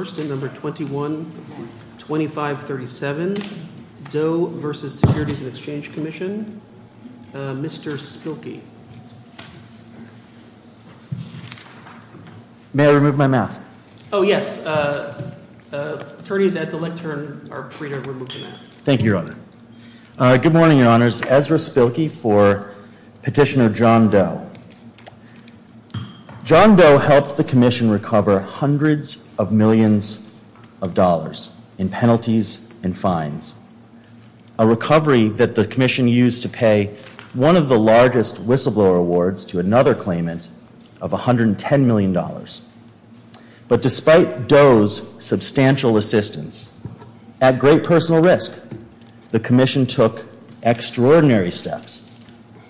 Mr. Spilkey. May I remove my mask? Oh, yes. Attorneys at the lectern are free to remove the mask. Thank you, Your Honor. Good morning, Your Honors. Ezra Spilkey for Petitioner John Doe helped the Commission recover hundreds of millions of dollars in penalties and fines. A recovery that the Commission used to pay one of the largest whistleblower awards to another claimant of $110 million. But despite Doe's substantial assistance, at great personal risk, the Commission took extraordinary steps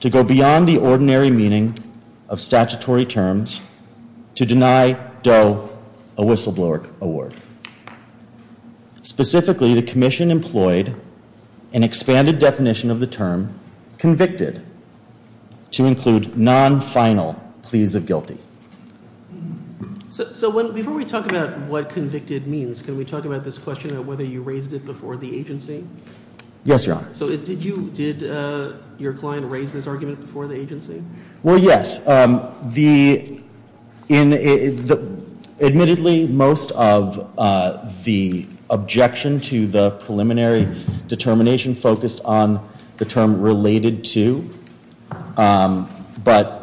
to go beyond the ordinary meaning of statutory terms to deny Doe a whistleblower award. Specifically, the Commission employed an expanded definition of the term convicted to include non-final pleas of guilty. So before we talk about what convicted means, can we talk about this question of whether you raised it before the agency? Yes, Your Honor. So did your client raise this argument before the agency? Well, yes. Admittedly, most of the objection to the preliminary determination focused on the term related to, but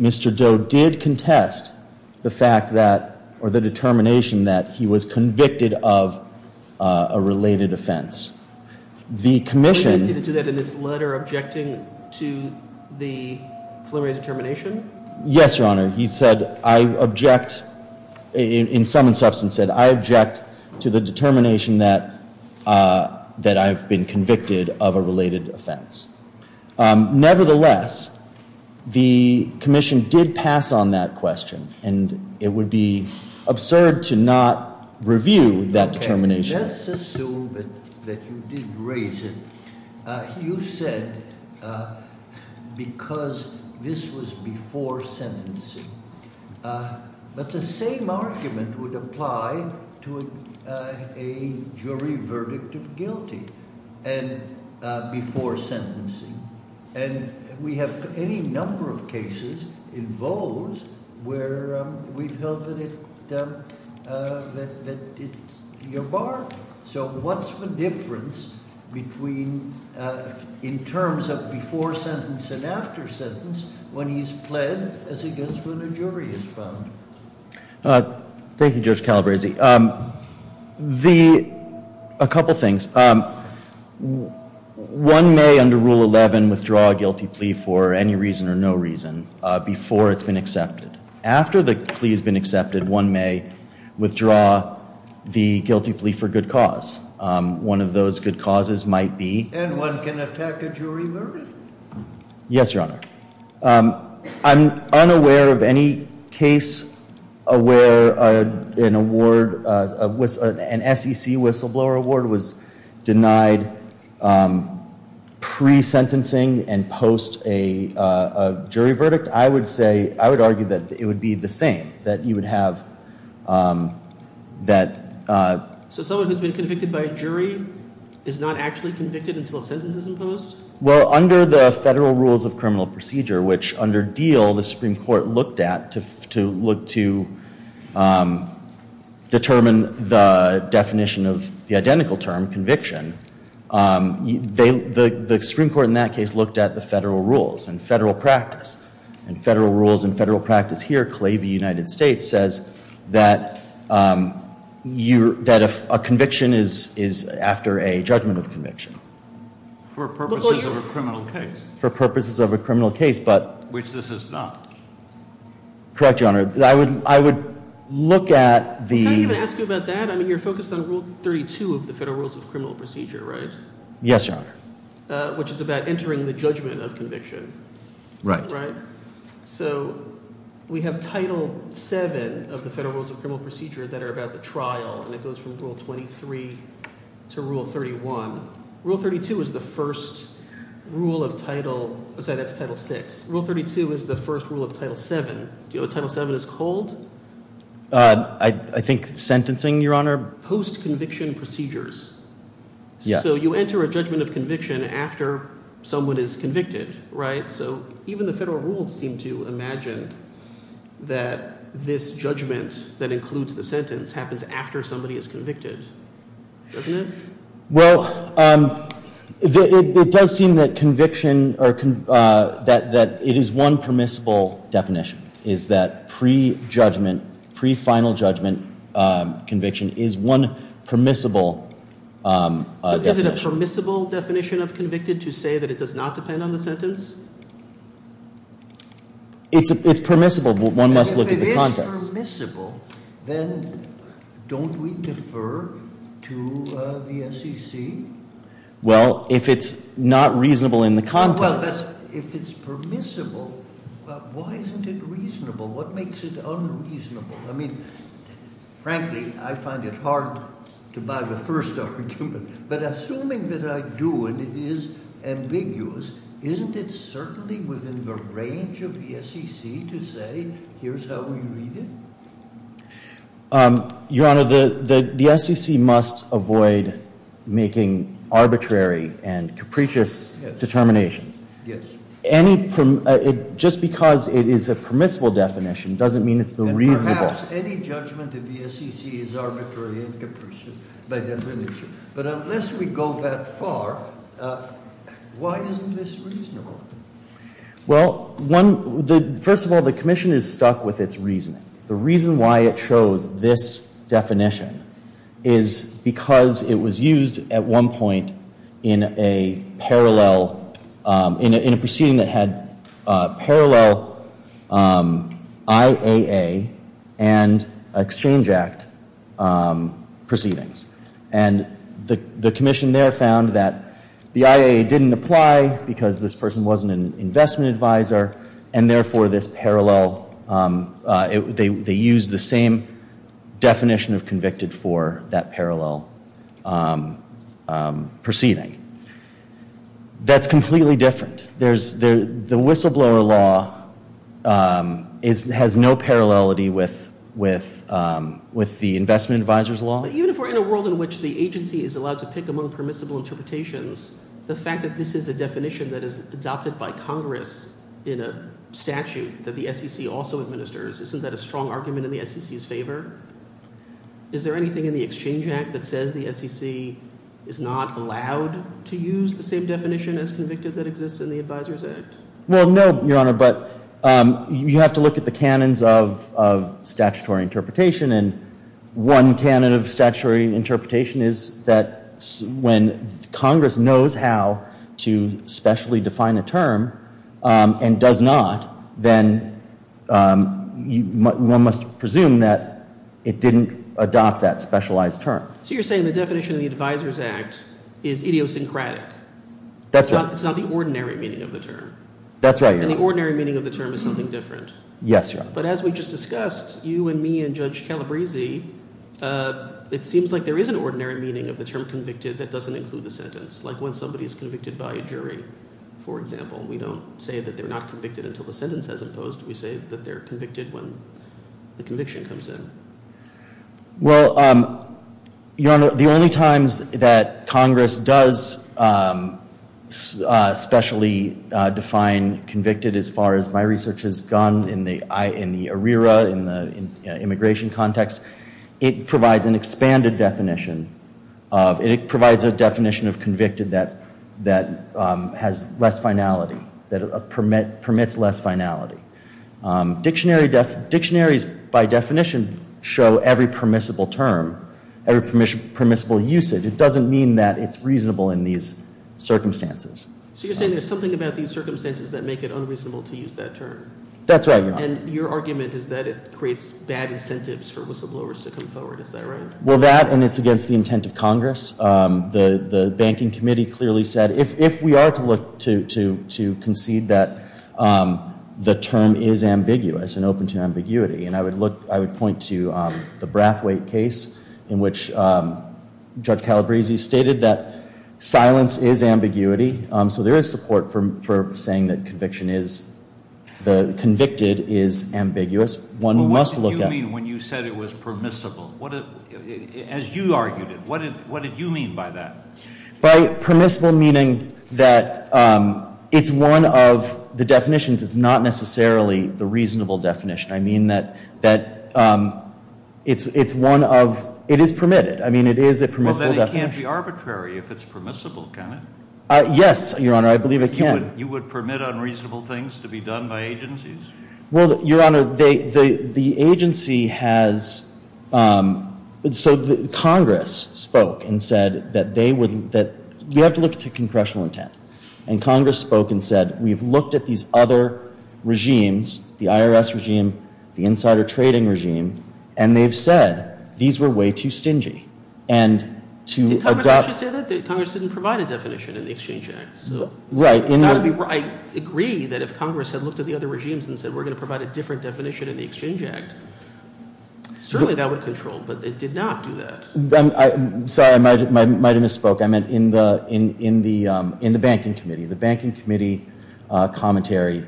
Mr. Doe did contest the fact that or the determination that he was convicted of a related offense. Nevertheless, the Commission did pass on that question and it would be absurd to not review that determination. Let's assume that you did raise it. You said because this was before sentencing. But the same argument would apply to a jury verdict of guilty and before sentencing. And we have any number of cases in those where we've held that it's your bar. So what's the difference between, in terms of before sentence and after sentence, when he's pled as against when a jury is found? Thank you, Judge Calabresi. A couple things. One may, under Rule 11, withdraw a guilty plea for any reason or no reason before it's been accepted. After the plea has been accepted, one may withdraw the guilty plea for good cause. And one can attack a jury verdict? Yes, Your Honor. I'm unaware of any case where an award, an SEC whistleblower award was denied pre-sentencing and post a jury verdict. I would say, I would argue that it would be the same. So someone who's been convicted by a jury is not actually convicted until a sentence is imposed? Well, under the Federal Rules of Criminal Procedure, which under Diehl the Supreme Court looked at to look to determine the definition of the identical term, conviction, the Supreme Court in that case looked at the federal rules and federal practice. And federal rules and federal practice here claim the United States says that a conviction is after a judgment of conviction. For purposes of a criminal case? For purposes of a criminal case, but. Which this is not. Correct, Your Honor. I would look at the. Can I even ask you about that? I mean, you're focused on Rule 32 of the Federal Rules of Criminal Procedure, right? Yes, Your Honor. Which is about entering the judgment of conviction. Right. Right. So we have Title 7 of the Federal Rules of Criminal Procedure that are about the trial, and it goes from Rule 23 to Rule 31. Rule 32 is the first rule of Title. I'm sorry, that's Title 6. Rule 32 is the first rule of Title 7. Do you know what Title 7 is called? I think sentencing, Your Honor. Post-conviction procedures. Yes. So you enter a judgment of conviction after someone is convicted, right? So even the federal rules seem to imagine that this judgment that includes the sentence happens after somebody is convicted, doesn't it? Well, it does seem that conviction, that it is one permissible definition, is that pre-judgment, pre-final judgment conviction is one permissible definition. So is it a permissible definition of convicted to say that it does not depend on the sentence? It's permissible, but one must look at the context. If it's permissible, then don't we defer to the SEC? Well, if it's not reasonable in the context. Well, but if it's permissible, why isn't it reasonable? What makes it unreasonable? I mean, frankly, I find it hard to buy the first argument, but assuming that I do and it is ambiguous, isn't it certainly within the range of the SEC to say, here's how we read it? Your Honor, the SEC must avoid making arbitrary and capricious determinations. Yes. Any, just because it is a permissible definition doesn't mean it's the reasonable. And perhaps any judgment of the SEC is arbitrary and capricious by definition, but unless we go that far, why isn't this reasonable? Well, first of all, the commission is stuck with its reasoning. The reason why it chose this definition is because it was used at one point in a parallel, in a proceeding that had parallel IAA and Exchange Act proceedings. And the commission there found that the IAA didn't apply because this person wasn't an investment advisor, and therefore this parallel, they used the same definition of convicted for that parallel proceeding. That's completely different. The whistleblower law has no parallelity with the investment advisor's law. But even if we're in a world in which the agency is allowed to pick among permissible interpretations, the fact that this is a definition that is adopted by Congress in a statute that the SEC also administers, isn't that a strong argument in the SEC's favor? Is there anything in the Exchange Act that says the SEC is not allowed to use the same definition as convicted that exists in the Advisors Act? Well, no, Your Honor, but you have to look at the canons of statutory interpretation, and one canon of statutory interpretation is that when Congress knows how to specially define a term and does not, then one must presume that it didn't adopt that specialized term. So you're saying the definition of the Advisors Act is idiosyncratic? That's right. It's not the ordinary meaning of the term? That's right, Your Honor. And the ordinary meaning of the term is something different? Yes, Your Honor. But as we just discussed, you and me and Judge Calabresi, it seems like there is an ordinary meaning of the term convicted that doesn't include the sentence, like when somebody is convicted by a jury, for example. We don't say that they're not convicted until the sentence has imposed. We say that they're convicted when the conviction comes in. Well, Your Honor, the only times that Congress does specially define convicted, as far as my research has gone in the ARERA, in the immigration context, it provides an expanded definition. It provides a definition of convicted that has less finality, that permits less finality. Dictionaries, by definition, show every permissible term, every permissible usage. It doesn't mean that it's reasonable in these circumstances. So you're saying there's something about these circumstances that make it unreasonable to use that term? That's right, Your Honor. And your argument is that it creates bad incentives for whistleblowers to come forward. Is that right? Well, that, and it's against the intent of Congress. The banking committee clearly said, if we are to look to concede that the term is ambiguous and open to ambiguity, and I would point to the Brathwaite case in which Judge Calabresi stated that silence is ambiguity. So there is support for saying that conviction is, convicted is ambiguous. One must look at- As you argued it, what did you mean by that? By permissible meaning that it's one of the definitions, it's not necessarily the reasonable definition. I mean that it's one of, it is permitted, I mean it is a permissible definition. Well, then it can't be arbitrary if it's permissible, can it? Yes, Your Honor, I believe it can. You would permit unreasonable things to be done by agencies? Well, Your Honor, the agency has, so Congress spoke and said that they would, that we have to look to congressional intent. And Congress spoke and said we've looked at these other regimes, the IRS regime, the insider trading regime, and they've said these were way too stingy. And to adopt- Did Congress actually say that? Congress didn't provide a definition in the Exchange Act. Right. I agree that if Congress had looked at the other regimes and said we're going to provide a different definition in the Exchange Act, certainly that would control, but it did not do that. Sorry, I might have misspoke. I meant in the banking committee. The banking committee commentary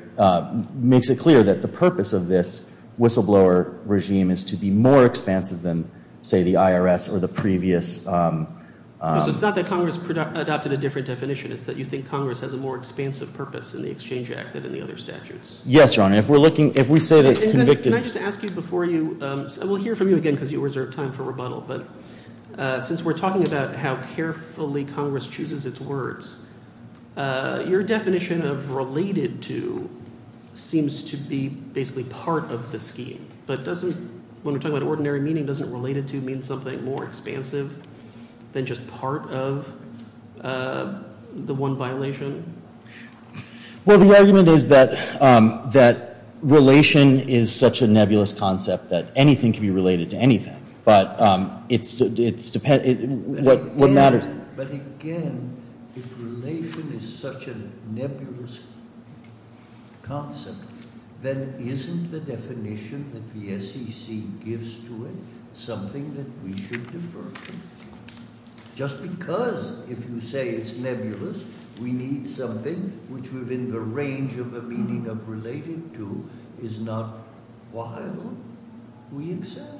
makes it clear that the purpose of this whistleblower regime is to be more expansive than, say, the IRS or the previous- So it's not that Congress adopted a different definition. It's that you think Congress has a more expansive purpose in the Exchange Act than in the other statutes. Yes, Your Honor. If we're looking – if we say that convicted- Can I just ask you before you – and we'll hear from you again because you reserve time for rebuttal, but since we're talking about how carefully Congress chooses its words, your definition of related to seems to be basically part of the scheme. But doesn't – when we're talking about ordinary meaning, doesn't related to mean something more expansive than just part of the one violation? Well, the argument is that relation is such a nebulous concept that anything can be related to anything. But it's – what matters- But again, if relation is such a nebulous concept, then isn't the definition that the SEC gives to it something that we should defer to? Just because if you say it's nebulous, we need something which within the range of the meaning of related to is not why we accept.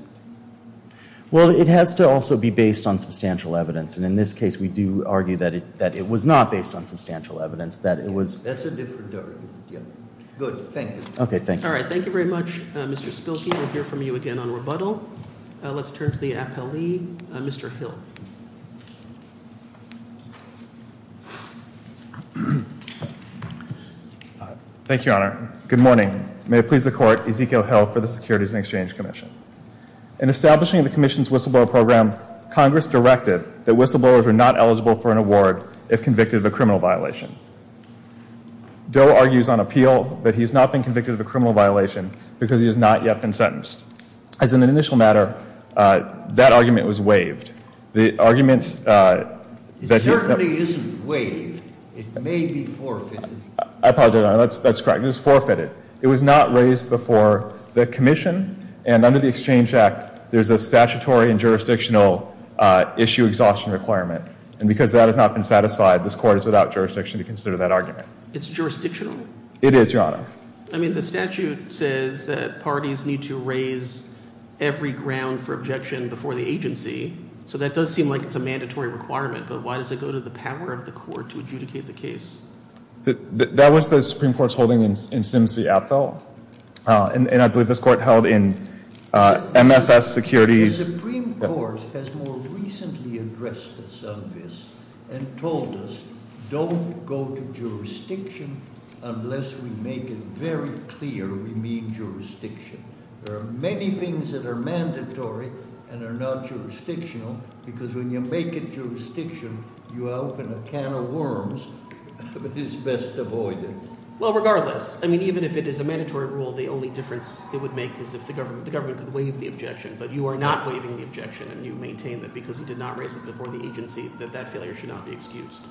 Well, it has to also be based on substantial evidence. And in this case, we do argue that it was not based on substantial evidence, that it was- That's a different argument. Good, thank you. Okay, thank you. All right, thank you very much, Mr. Spilkey. We'll hear from you again on rebuttal. Let's turn to the appellee, Mr. Hill. Thank you, Your Honor. Good morning. May it please the Court, Ezekiel Hill for the Securities and Exchange Commission. In establishing the Commission's whistleblower program, Congress directed that whistleblowers are not eligible for an award if convicted of a criminal violation. Doe argues on appeal that he has not been convicted of a criminal violation because he has not yet been sentenced. As an initial matter, that argument was waived. The argument that he- It certainly isn't waived. It may be forfeited. I apologize, Your Honor. That's correct. That argument is forfeited. It was not raised before the Commission, and under the Exchange Act, there's a statutory and jurisdictional issue exhaustion requirement. And because that has not been satisfied, this Court is without jurisdiction to consider that argument. It's jurisdictional? It is, Your Honor. I mean, the statute says that parties need to raise every ground for objection before the agency, so that does seem like it's a mandatory requirement. But why does it go to the power of the Court to adjudicate the case? That was the Supreme Court's holding in Sims v. Apfel, and I believe this Court held in MFS Securities- The Supreme Court has more recently addressed us on this and told us, don't go to jurisdiction unless we make it very clear we mean jurisdiction. There are many things that are mandatory and are not jurisdictional, because when you make it jurisdiction, you open a can of worms. It is best avoided. Well, regardless, I mean, even if it is a mandatory rule, the only difference it would make is if the government could waive the objection. But you are not waiving the objection, and you maintain that because you did not raise it before the agency, that that failure should not be excused.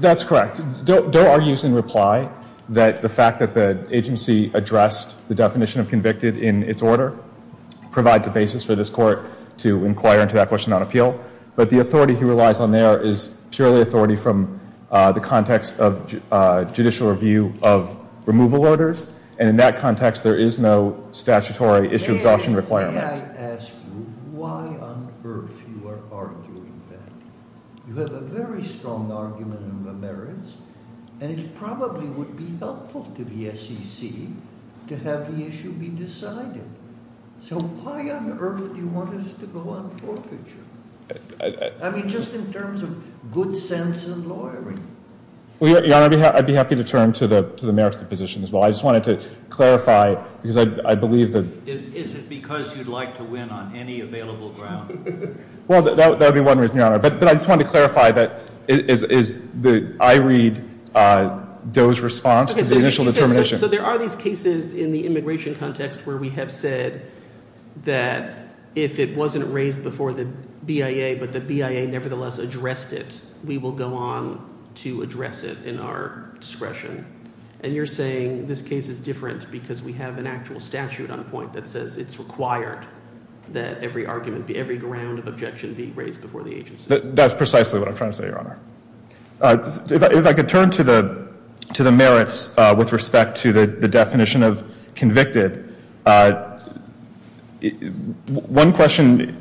That's correct. Doe argues in reply that the fact that the agency addressed the definition of convicted in its order provides a basis for this Court to inquire into that question on appeal. But the authority he relies on there is purely authority from the context of judicial review of removal orders, and in that context, there is no statutory issue of exhaustion requirement. May I ask you why on earth you are arguing that? You have a very strong argument on the merits, and it probably would be helpful to the SEC to have the issue be decided. So why on earth do you want us to go on forfeiture? I mean, just in terms of good sense and lawyering. Well, Your Honor, I'd be happy to turn to the merits of the position as well. I just wanted to clarify, because I believe that— Is it because you'd like to win on any available ground? Well, that would be one reason, Your Honor. But I just wanted to clarify that I read Doe's response as the initial determination. So there are these cases in the immigration context where we have said that if it wasn't raised before the BIA but the BIA nevertheless addressed it, we will go on to address it in our discretion. And you're saying this case is different because we have an actual statute on point that says it's required that every argument, every ground of objection be raised before the agency. That's precisely what I'm trying to say, Your Honor. If I could turn to the merits with respect to the definition of convicted, one question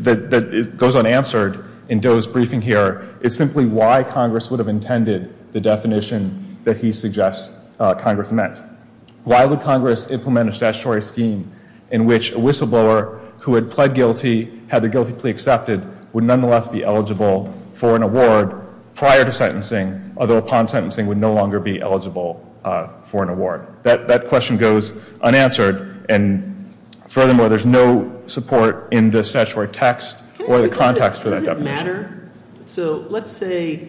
that goes unanswered in Doe's briefing here is simply why Congress would have intended the definition that he suggests Congress meant. Why would Congress implement a statutory scheme in which a whistleblower who had pled guilty, had their guilty plea accepted, would nonetheless be eligible for an award prior to sentencing, although upon sentencing would no longer be eligible for an award? That question goes unanswered. And furthermore, there's no support in the statutory text or the context for that definition. Does it matter? So let's say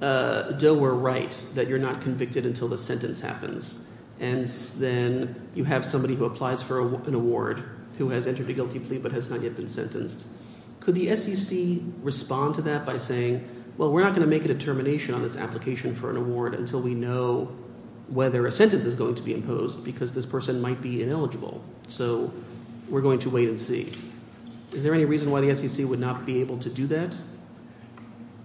Doe were right that you're not convicted until the sentence happens. And then you have somebody who applies for an award who has entered a guilty plea but has not yet been sentenced. Could the SEC respond to that by saying, well, we're not going to make a determination on this application for an award until we know whether a sentence is going to be imposed because this person might be ineligible. So we're going to wait and see. Is there any reason why the SEC would not be able to do that?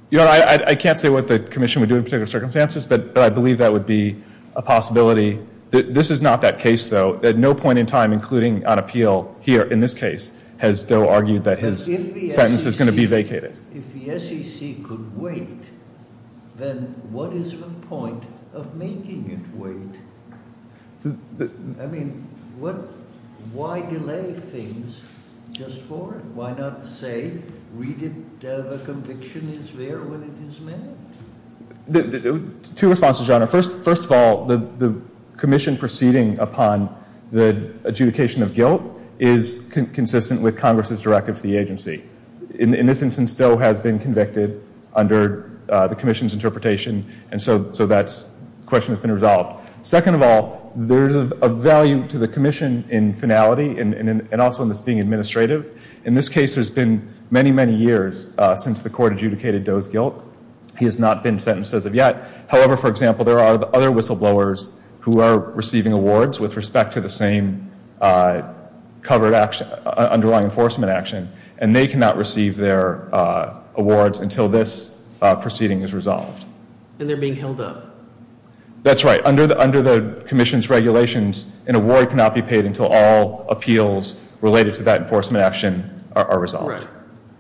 Your Honor, I can't say what the commission would do in particular circumstances, but I believe that would be a possibility. This is not that case, though. At no point in time, including on appeal here in this case, has Doe argued that his sentence is going to be vacated. If the SEC could wait, then what is the point of making it wait? I mean, why delay things just for it? Why not say, read it, the conviction is there when it is made? Two responses, Your Honor. First of all, the commission proceeding upon the adjudication of guilt is consistent with Congress's directive to the agency. In this instance, Doe has been convicted under the commission's interpretation, and so that question has been resolved. Second of all, there's a value to the commission in finality and also in this being administrative. In this case, there's been many, many years since the court adjudicated Doe's guilt. He has not been sentenced as of yet. However, for example, there are other whistleblowers who are receiving awards with respect to the same covered underlying enforcement action, and they cannot receive their awards until this proceeding is resolved. And they're being held up. That's right. Under the commission's regulations, an award cannot be paid until all appeals related to that enforcement action are resolved. Right.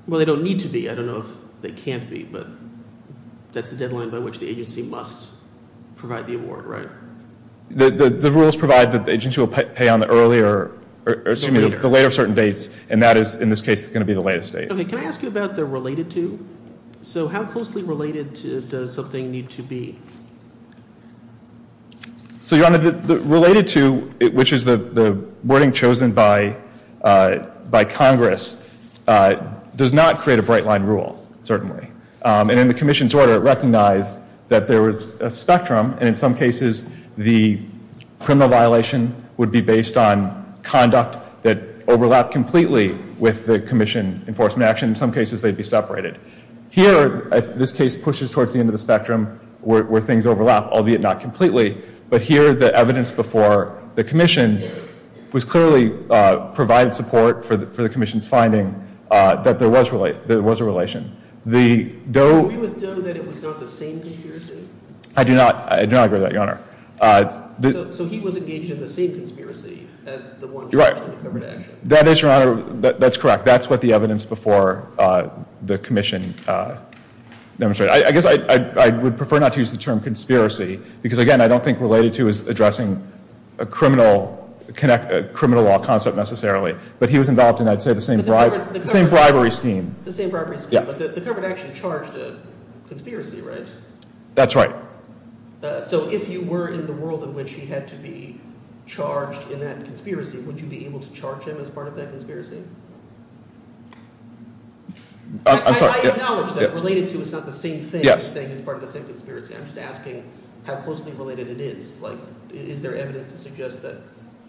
Well, they don't need to be. I don't know if they can't be, but that's the deadline by which the agency must provide the award, right? The rules provide that the agency will pay on the later certain dates, and that is, in this case, going to be the latest date. Can I ask you about the related to? So how closely related does something need to be? Related to, which is the wording chosen by Congress, does not create a bright-line rule, certainly. And in the commission's order, it recognized that there was a spectrum, and in some cases, the criminal violation would be based on conduct that overlapped completely with the commission enforcement action. In some cases, they'd be separated. Here, this case pushes towards the end of the spectrum where things overlap, albeit not completely. But here, the evidence before the commission was clearly provided support for the commission's finding that there was a relation. Do we withdo that it was not the same conspiracy? I do not agree with that, Your Honor. So he was engaged in the same conspiracy as the one charged in the covered action? Right. That is, Your Honor, that's correct. That's what the evidence before the commission demonstrated. I guess I would prefer not to use the term conspiracy because, again, I don't think related to is addressing a criminal law concept necessarily. But he was involved in, I'd say, the same bribery scheme. The same bribery scheme. But the covered action charged a conspiracy, right? That's right. So if you were in the world in which he had to be charged in that conspiracy, would you be able to charge him as part of that conspiracy? I'm sorry. I acknowledge that related to is not the same thing as saying he's part of the same conspiracy. I'm just asking how closely related it is. Like, is there evidence to suggest that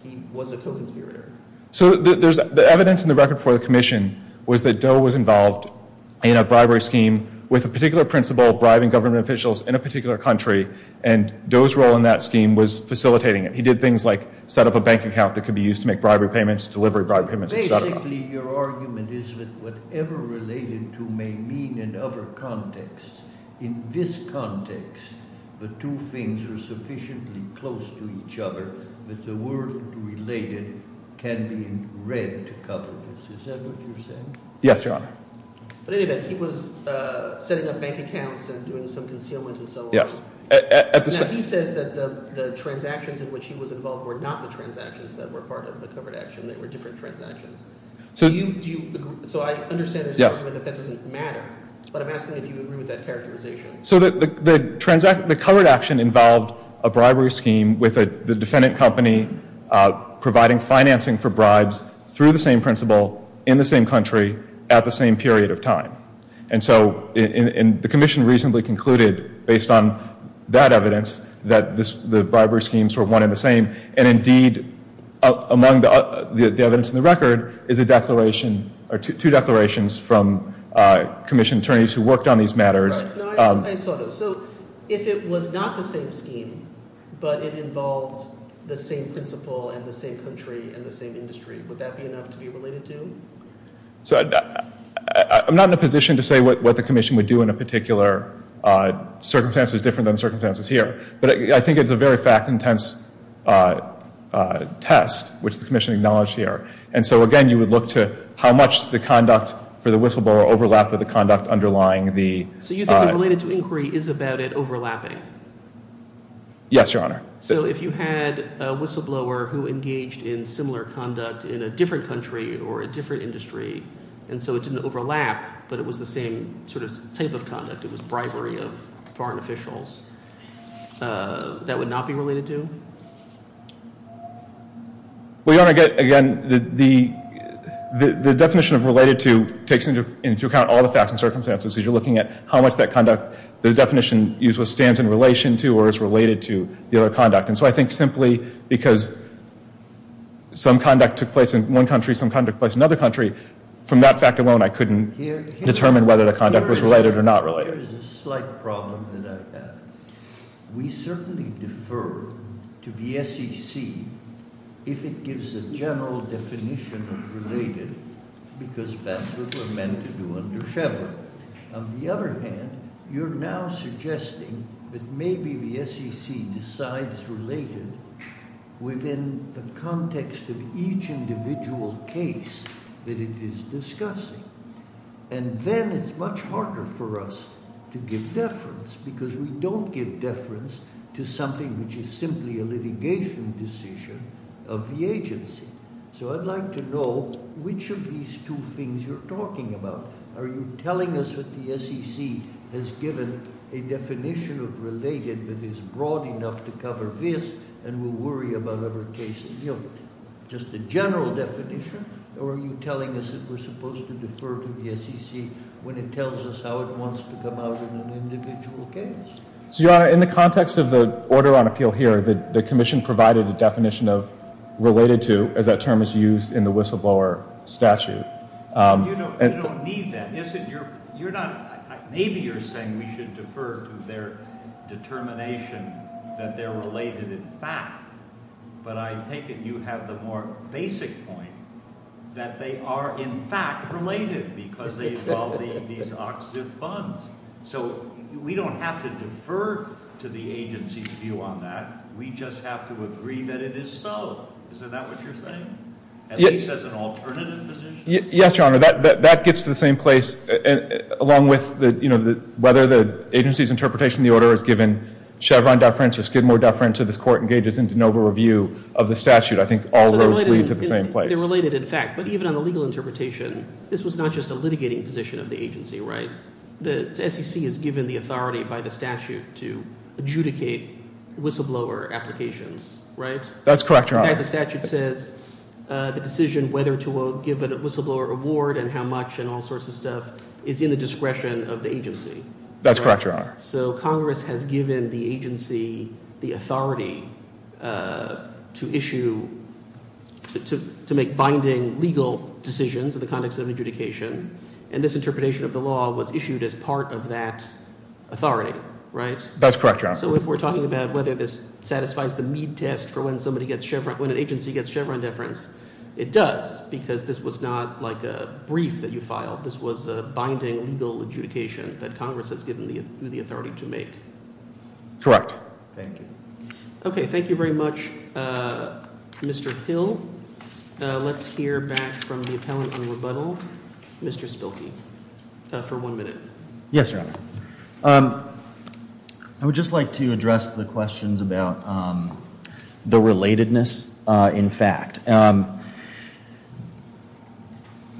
he was a co-conspirator? So the evidence in the record before the commission was that Doe was involved in a bribery scheme with a particular principal bribing government officials in a particular country, and Doe's role in that scheme was facilitating it. He did things like set up a bank account that could be used to make bribery payments, delivery bribery payments, et cetera. Basically, your argument is that whatever related to may mean in other contexts. In this context, the two things are sufficiently close to each other that the word related can be read to cover this. Is that what you're saying? Yes, Your Honor. But anyway, he was setting up bank accounts and doing some concealment and so on. Yes. Now, he says that the transactions in which he was involved were not the transactions that were part of the covered action. They were different transactions. So I understand your statement that that doesn't matter. But I'm asking if you agree with that characterization. So the covered action involved a bribery scheme with the defendant company providing financing for bribes through the same principal in the same country at the same period of time. And so the commission reasonably concluded, based on that evidence, that the bribery schemes were one and the same. And indeed, among the evidence in the record is a declaration or two declarations from commission attorneys who worked on these matters. I saw those. So if it was not the same scheme but it involved the same principal and the same country and the same industry, would that be enough to be related to? I'm not in a position to say what the commission would do in a particular circumstance that's different than the circumstances here. But I think it's a very fact-intense test, which the commission acknowledged here. And so, again, you would look to how much the conduct for the whistleblower overlapped with the conduct underlying the- So you think the related to inquiry is about it overlapping? Yes, Your Honor. So if you had a whistleblower who engaged in similar conduct in a different country or a different industry and so it didn't overlap, but it was the same sort of type of conduct, it was bribery of foreign officials, that would not be related to? Well, Your Honor, again, the definition of related to takes into account all the facts and circumstances because you're looking at how much that conduct, the definition used, stands in relation to or is related to the other conduct. And so I think simply because some conduct took place in one country, some conduct took place in another country, from that fact alone, I couldn't determine whether the conduct was related or not related. Here is a slight problem that I have. We certainly defer to the SEC if it gives a general definition of related because that's what we're meant to do under Sheva. On the other hand, you're now suggesting that maybe the SEC decides related within the context of each individual case that it is discussing. And then it's much harder for us to give deference because we don't give deference to something which is simply a litigation decision of the agency. So I'd like to know which of these two things you're talking about. Are you telling us that the SEC has given a definition of related that is broad enough to cover this and we'll worry about other cases? Just a general definition or are you telling us that we're supposed to defer to the SEC when it tells us how it wants to come out in an individual case? Your Honor, in the context of the order on appeal here, the commission provided a definition of related to as that term is used in the whistleblower statute. You don't need that. Maybe you're saying we should defer to their determination that they're related in fact, but I'm thinking you have the more basic point that they are in fact related because they involve these OXIF funds. So we don't have to defer to the agency's view on that. We just have to agree that it is so. Is that what you're saying? At least as an alternative position? Yes, Your Honor. That gets to the same place along with whether the agency's interpretation of the order has given Chevron deference or Skidmore deference or this court engages in de novo review of the statute. I think all roads lead to the same place. They're related in fact. But even on the legal interpretation, this was not just a litigating position of the agency, right? The SEC is given the authority by the statute to adjudicate whistleblower applications, right? That's correct, Your Honor. In fact, the statute says the decision whether to give a whistleblower award and how much and all sorts of stuff is in the discretion of the agency. That's correct, Your Honor. So Congress has given the agency the authority to issue, to make binding legal decisions in the context of adjudication, and this interpretation of the law was issued as part of that authority, right? That's correct, Your Honor. So if we're talking about whether this satisfies the Mead test for when somebody gets Chevron, when an agency gets Chevron deference, it does because this was not like a brief that you filed. This was a binding legal adjudication that Congress has given you the authority to make. Correct. Thank you. Okay. Thank you very much, Mr. Hill. Let's hear back from the appellant in rebuttal, Mr. Spilkey, for one minute. Yes, Your Honor. I would just like to address the questions about the relatedness in fact.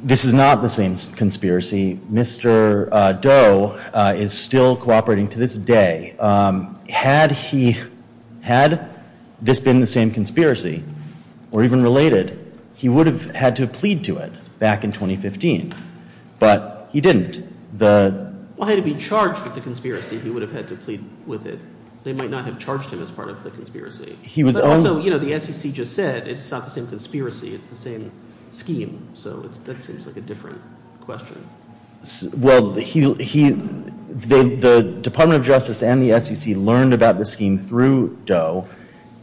This is not the same conspiracy. Mr. Doe is still cooperating to this day. Had he had this been the same conspiracy or even related, he would have had to have plead to it back in 2015, but he didn't. Well, had he been charged with the conspiracy, he would have had to plead with it. They might not have charged him as part of the conspiracy. But also, you know, the SEC just said it's not the same conspiracy. It's the same scheme. So that seems like a different question. Well, the Department of Justice and the SEC learned about the scheme through Doe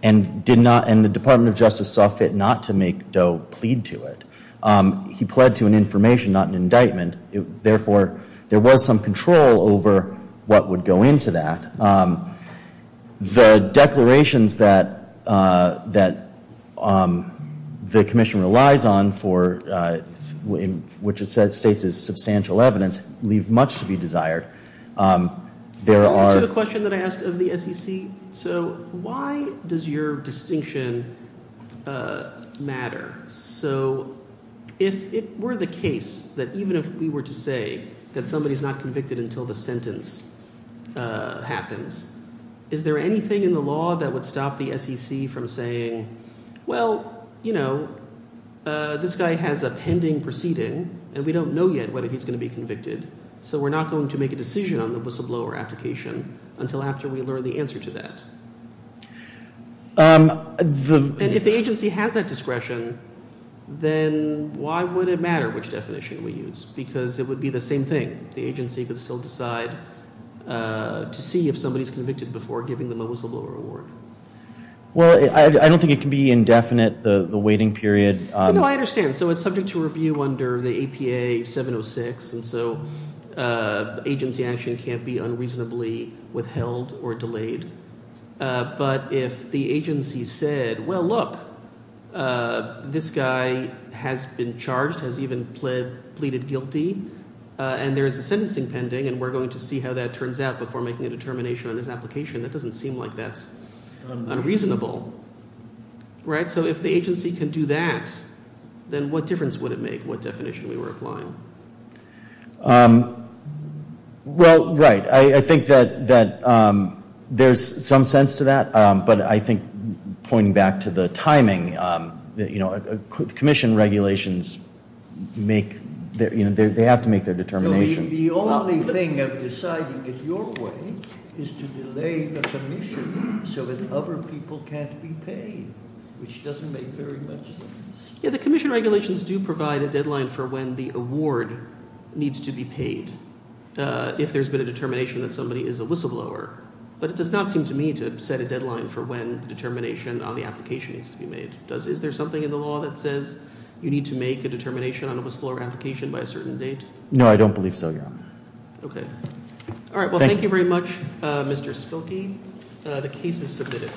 and the Department of Justice saw fit not to make Doe plead to it. He pled to an information, not an indictment. Therefore, there was some control over what would go into that. The declarations that the commission relies on, which it states is substantial evidence, leave much to be desired. There are- Can I ask you a question that I asked of the SEC? So why does your distinction matter? So if it were the case that even if we were to say that somebody is not convicted until the sentence happens, is there anything in the law that would stop the SEC from saying, well, you know, this guy has a pending proceeding, and we don't know yet whether he's going to be convicted, so we're not going to make a decision on the whistleblower application until after we learn the answer to that. If the agency has that discretion, then why would it matter which definition we use? Because it would be the same thing. The agency could still decide to see if somebody is convicted before giving them a whistleblower award. Well, I don't think it can be indefinite, the waiting period. No, I understand. So it's subject to review under the APA 706, and so agency action can't be unreasonably withheld or delayed. But if the agency said, well, look, this guy has been charged, has even pleaded guilty, and there is a sentencing pending, and we're going to see how that turns out before making a determination on his application, that doesn't seem like that's unreasonable. Right? So if the agency can do that, then what difference would it make what definition we were applying? Well, right. I think that there's some sense to that. But I think, pointing back to the timing, commission regulations, they have to make their determination. The only thing of deciding in your way is to delay the commission so that other people can't be paid, which doesn't make very much sense. Yeah, the commission regulations do provide a deadline for when the award needs to be paid if there's been a determination that somebody is a whistleblower. But it does not seem to me to set a deadline for when the determination on the application needs to be made. Is there something in the law that says you need to make a determination on a whistleblower application by a certain date? No, I don't believe so, Your Honor. Okay. All right, well, thank you very much, Mr. Spilkey. The case is submitted.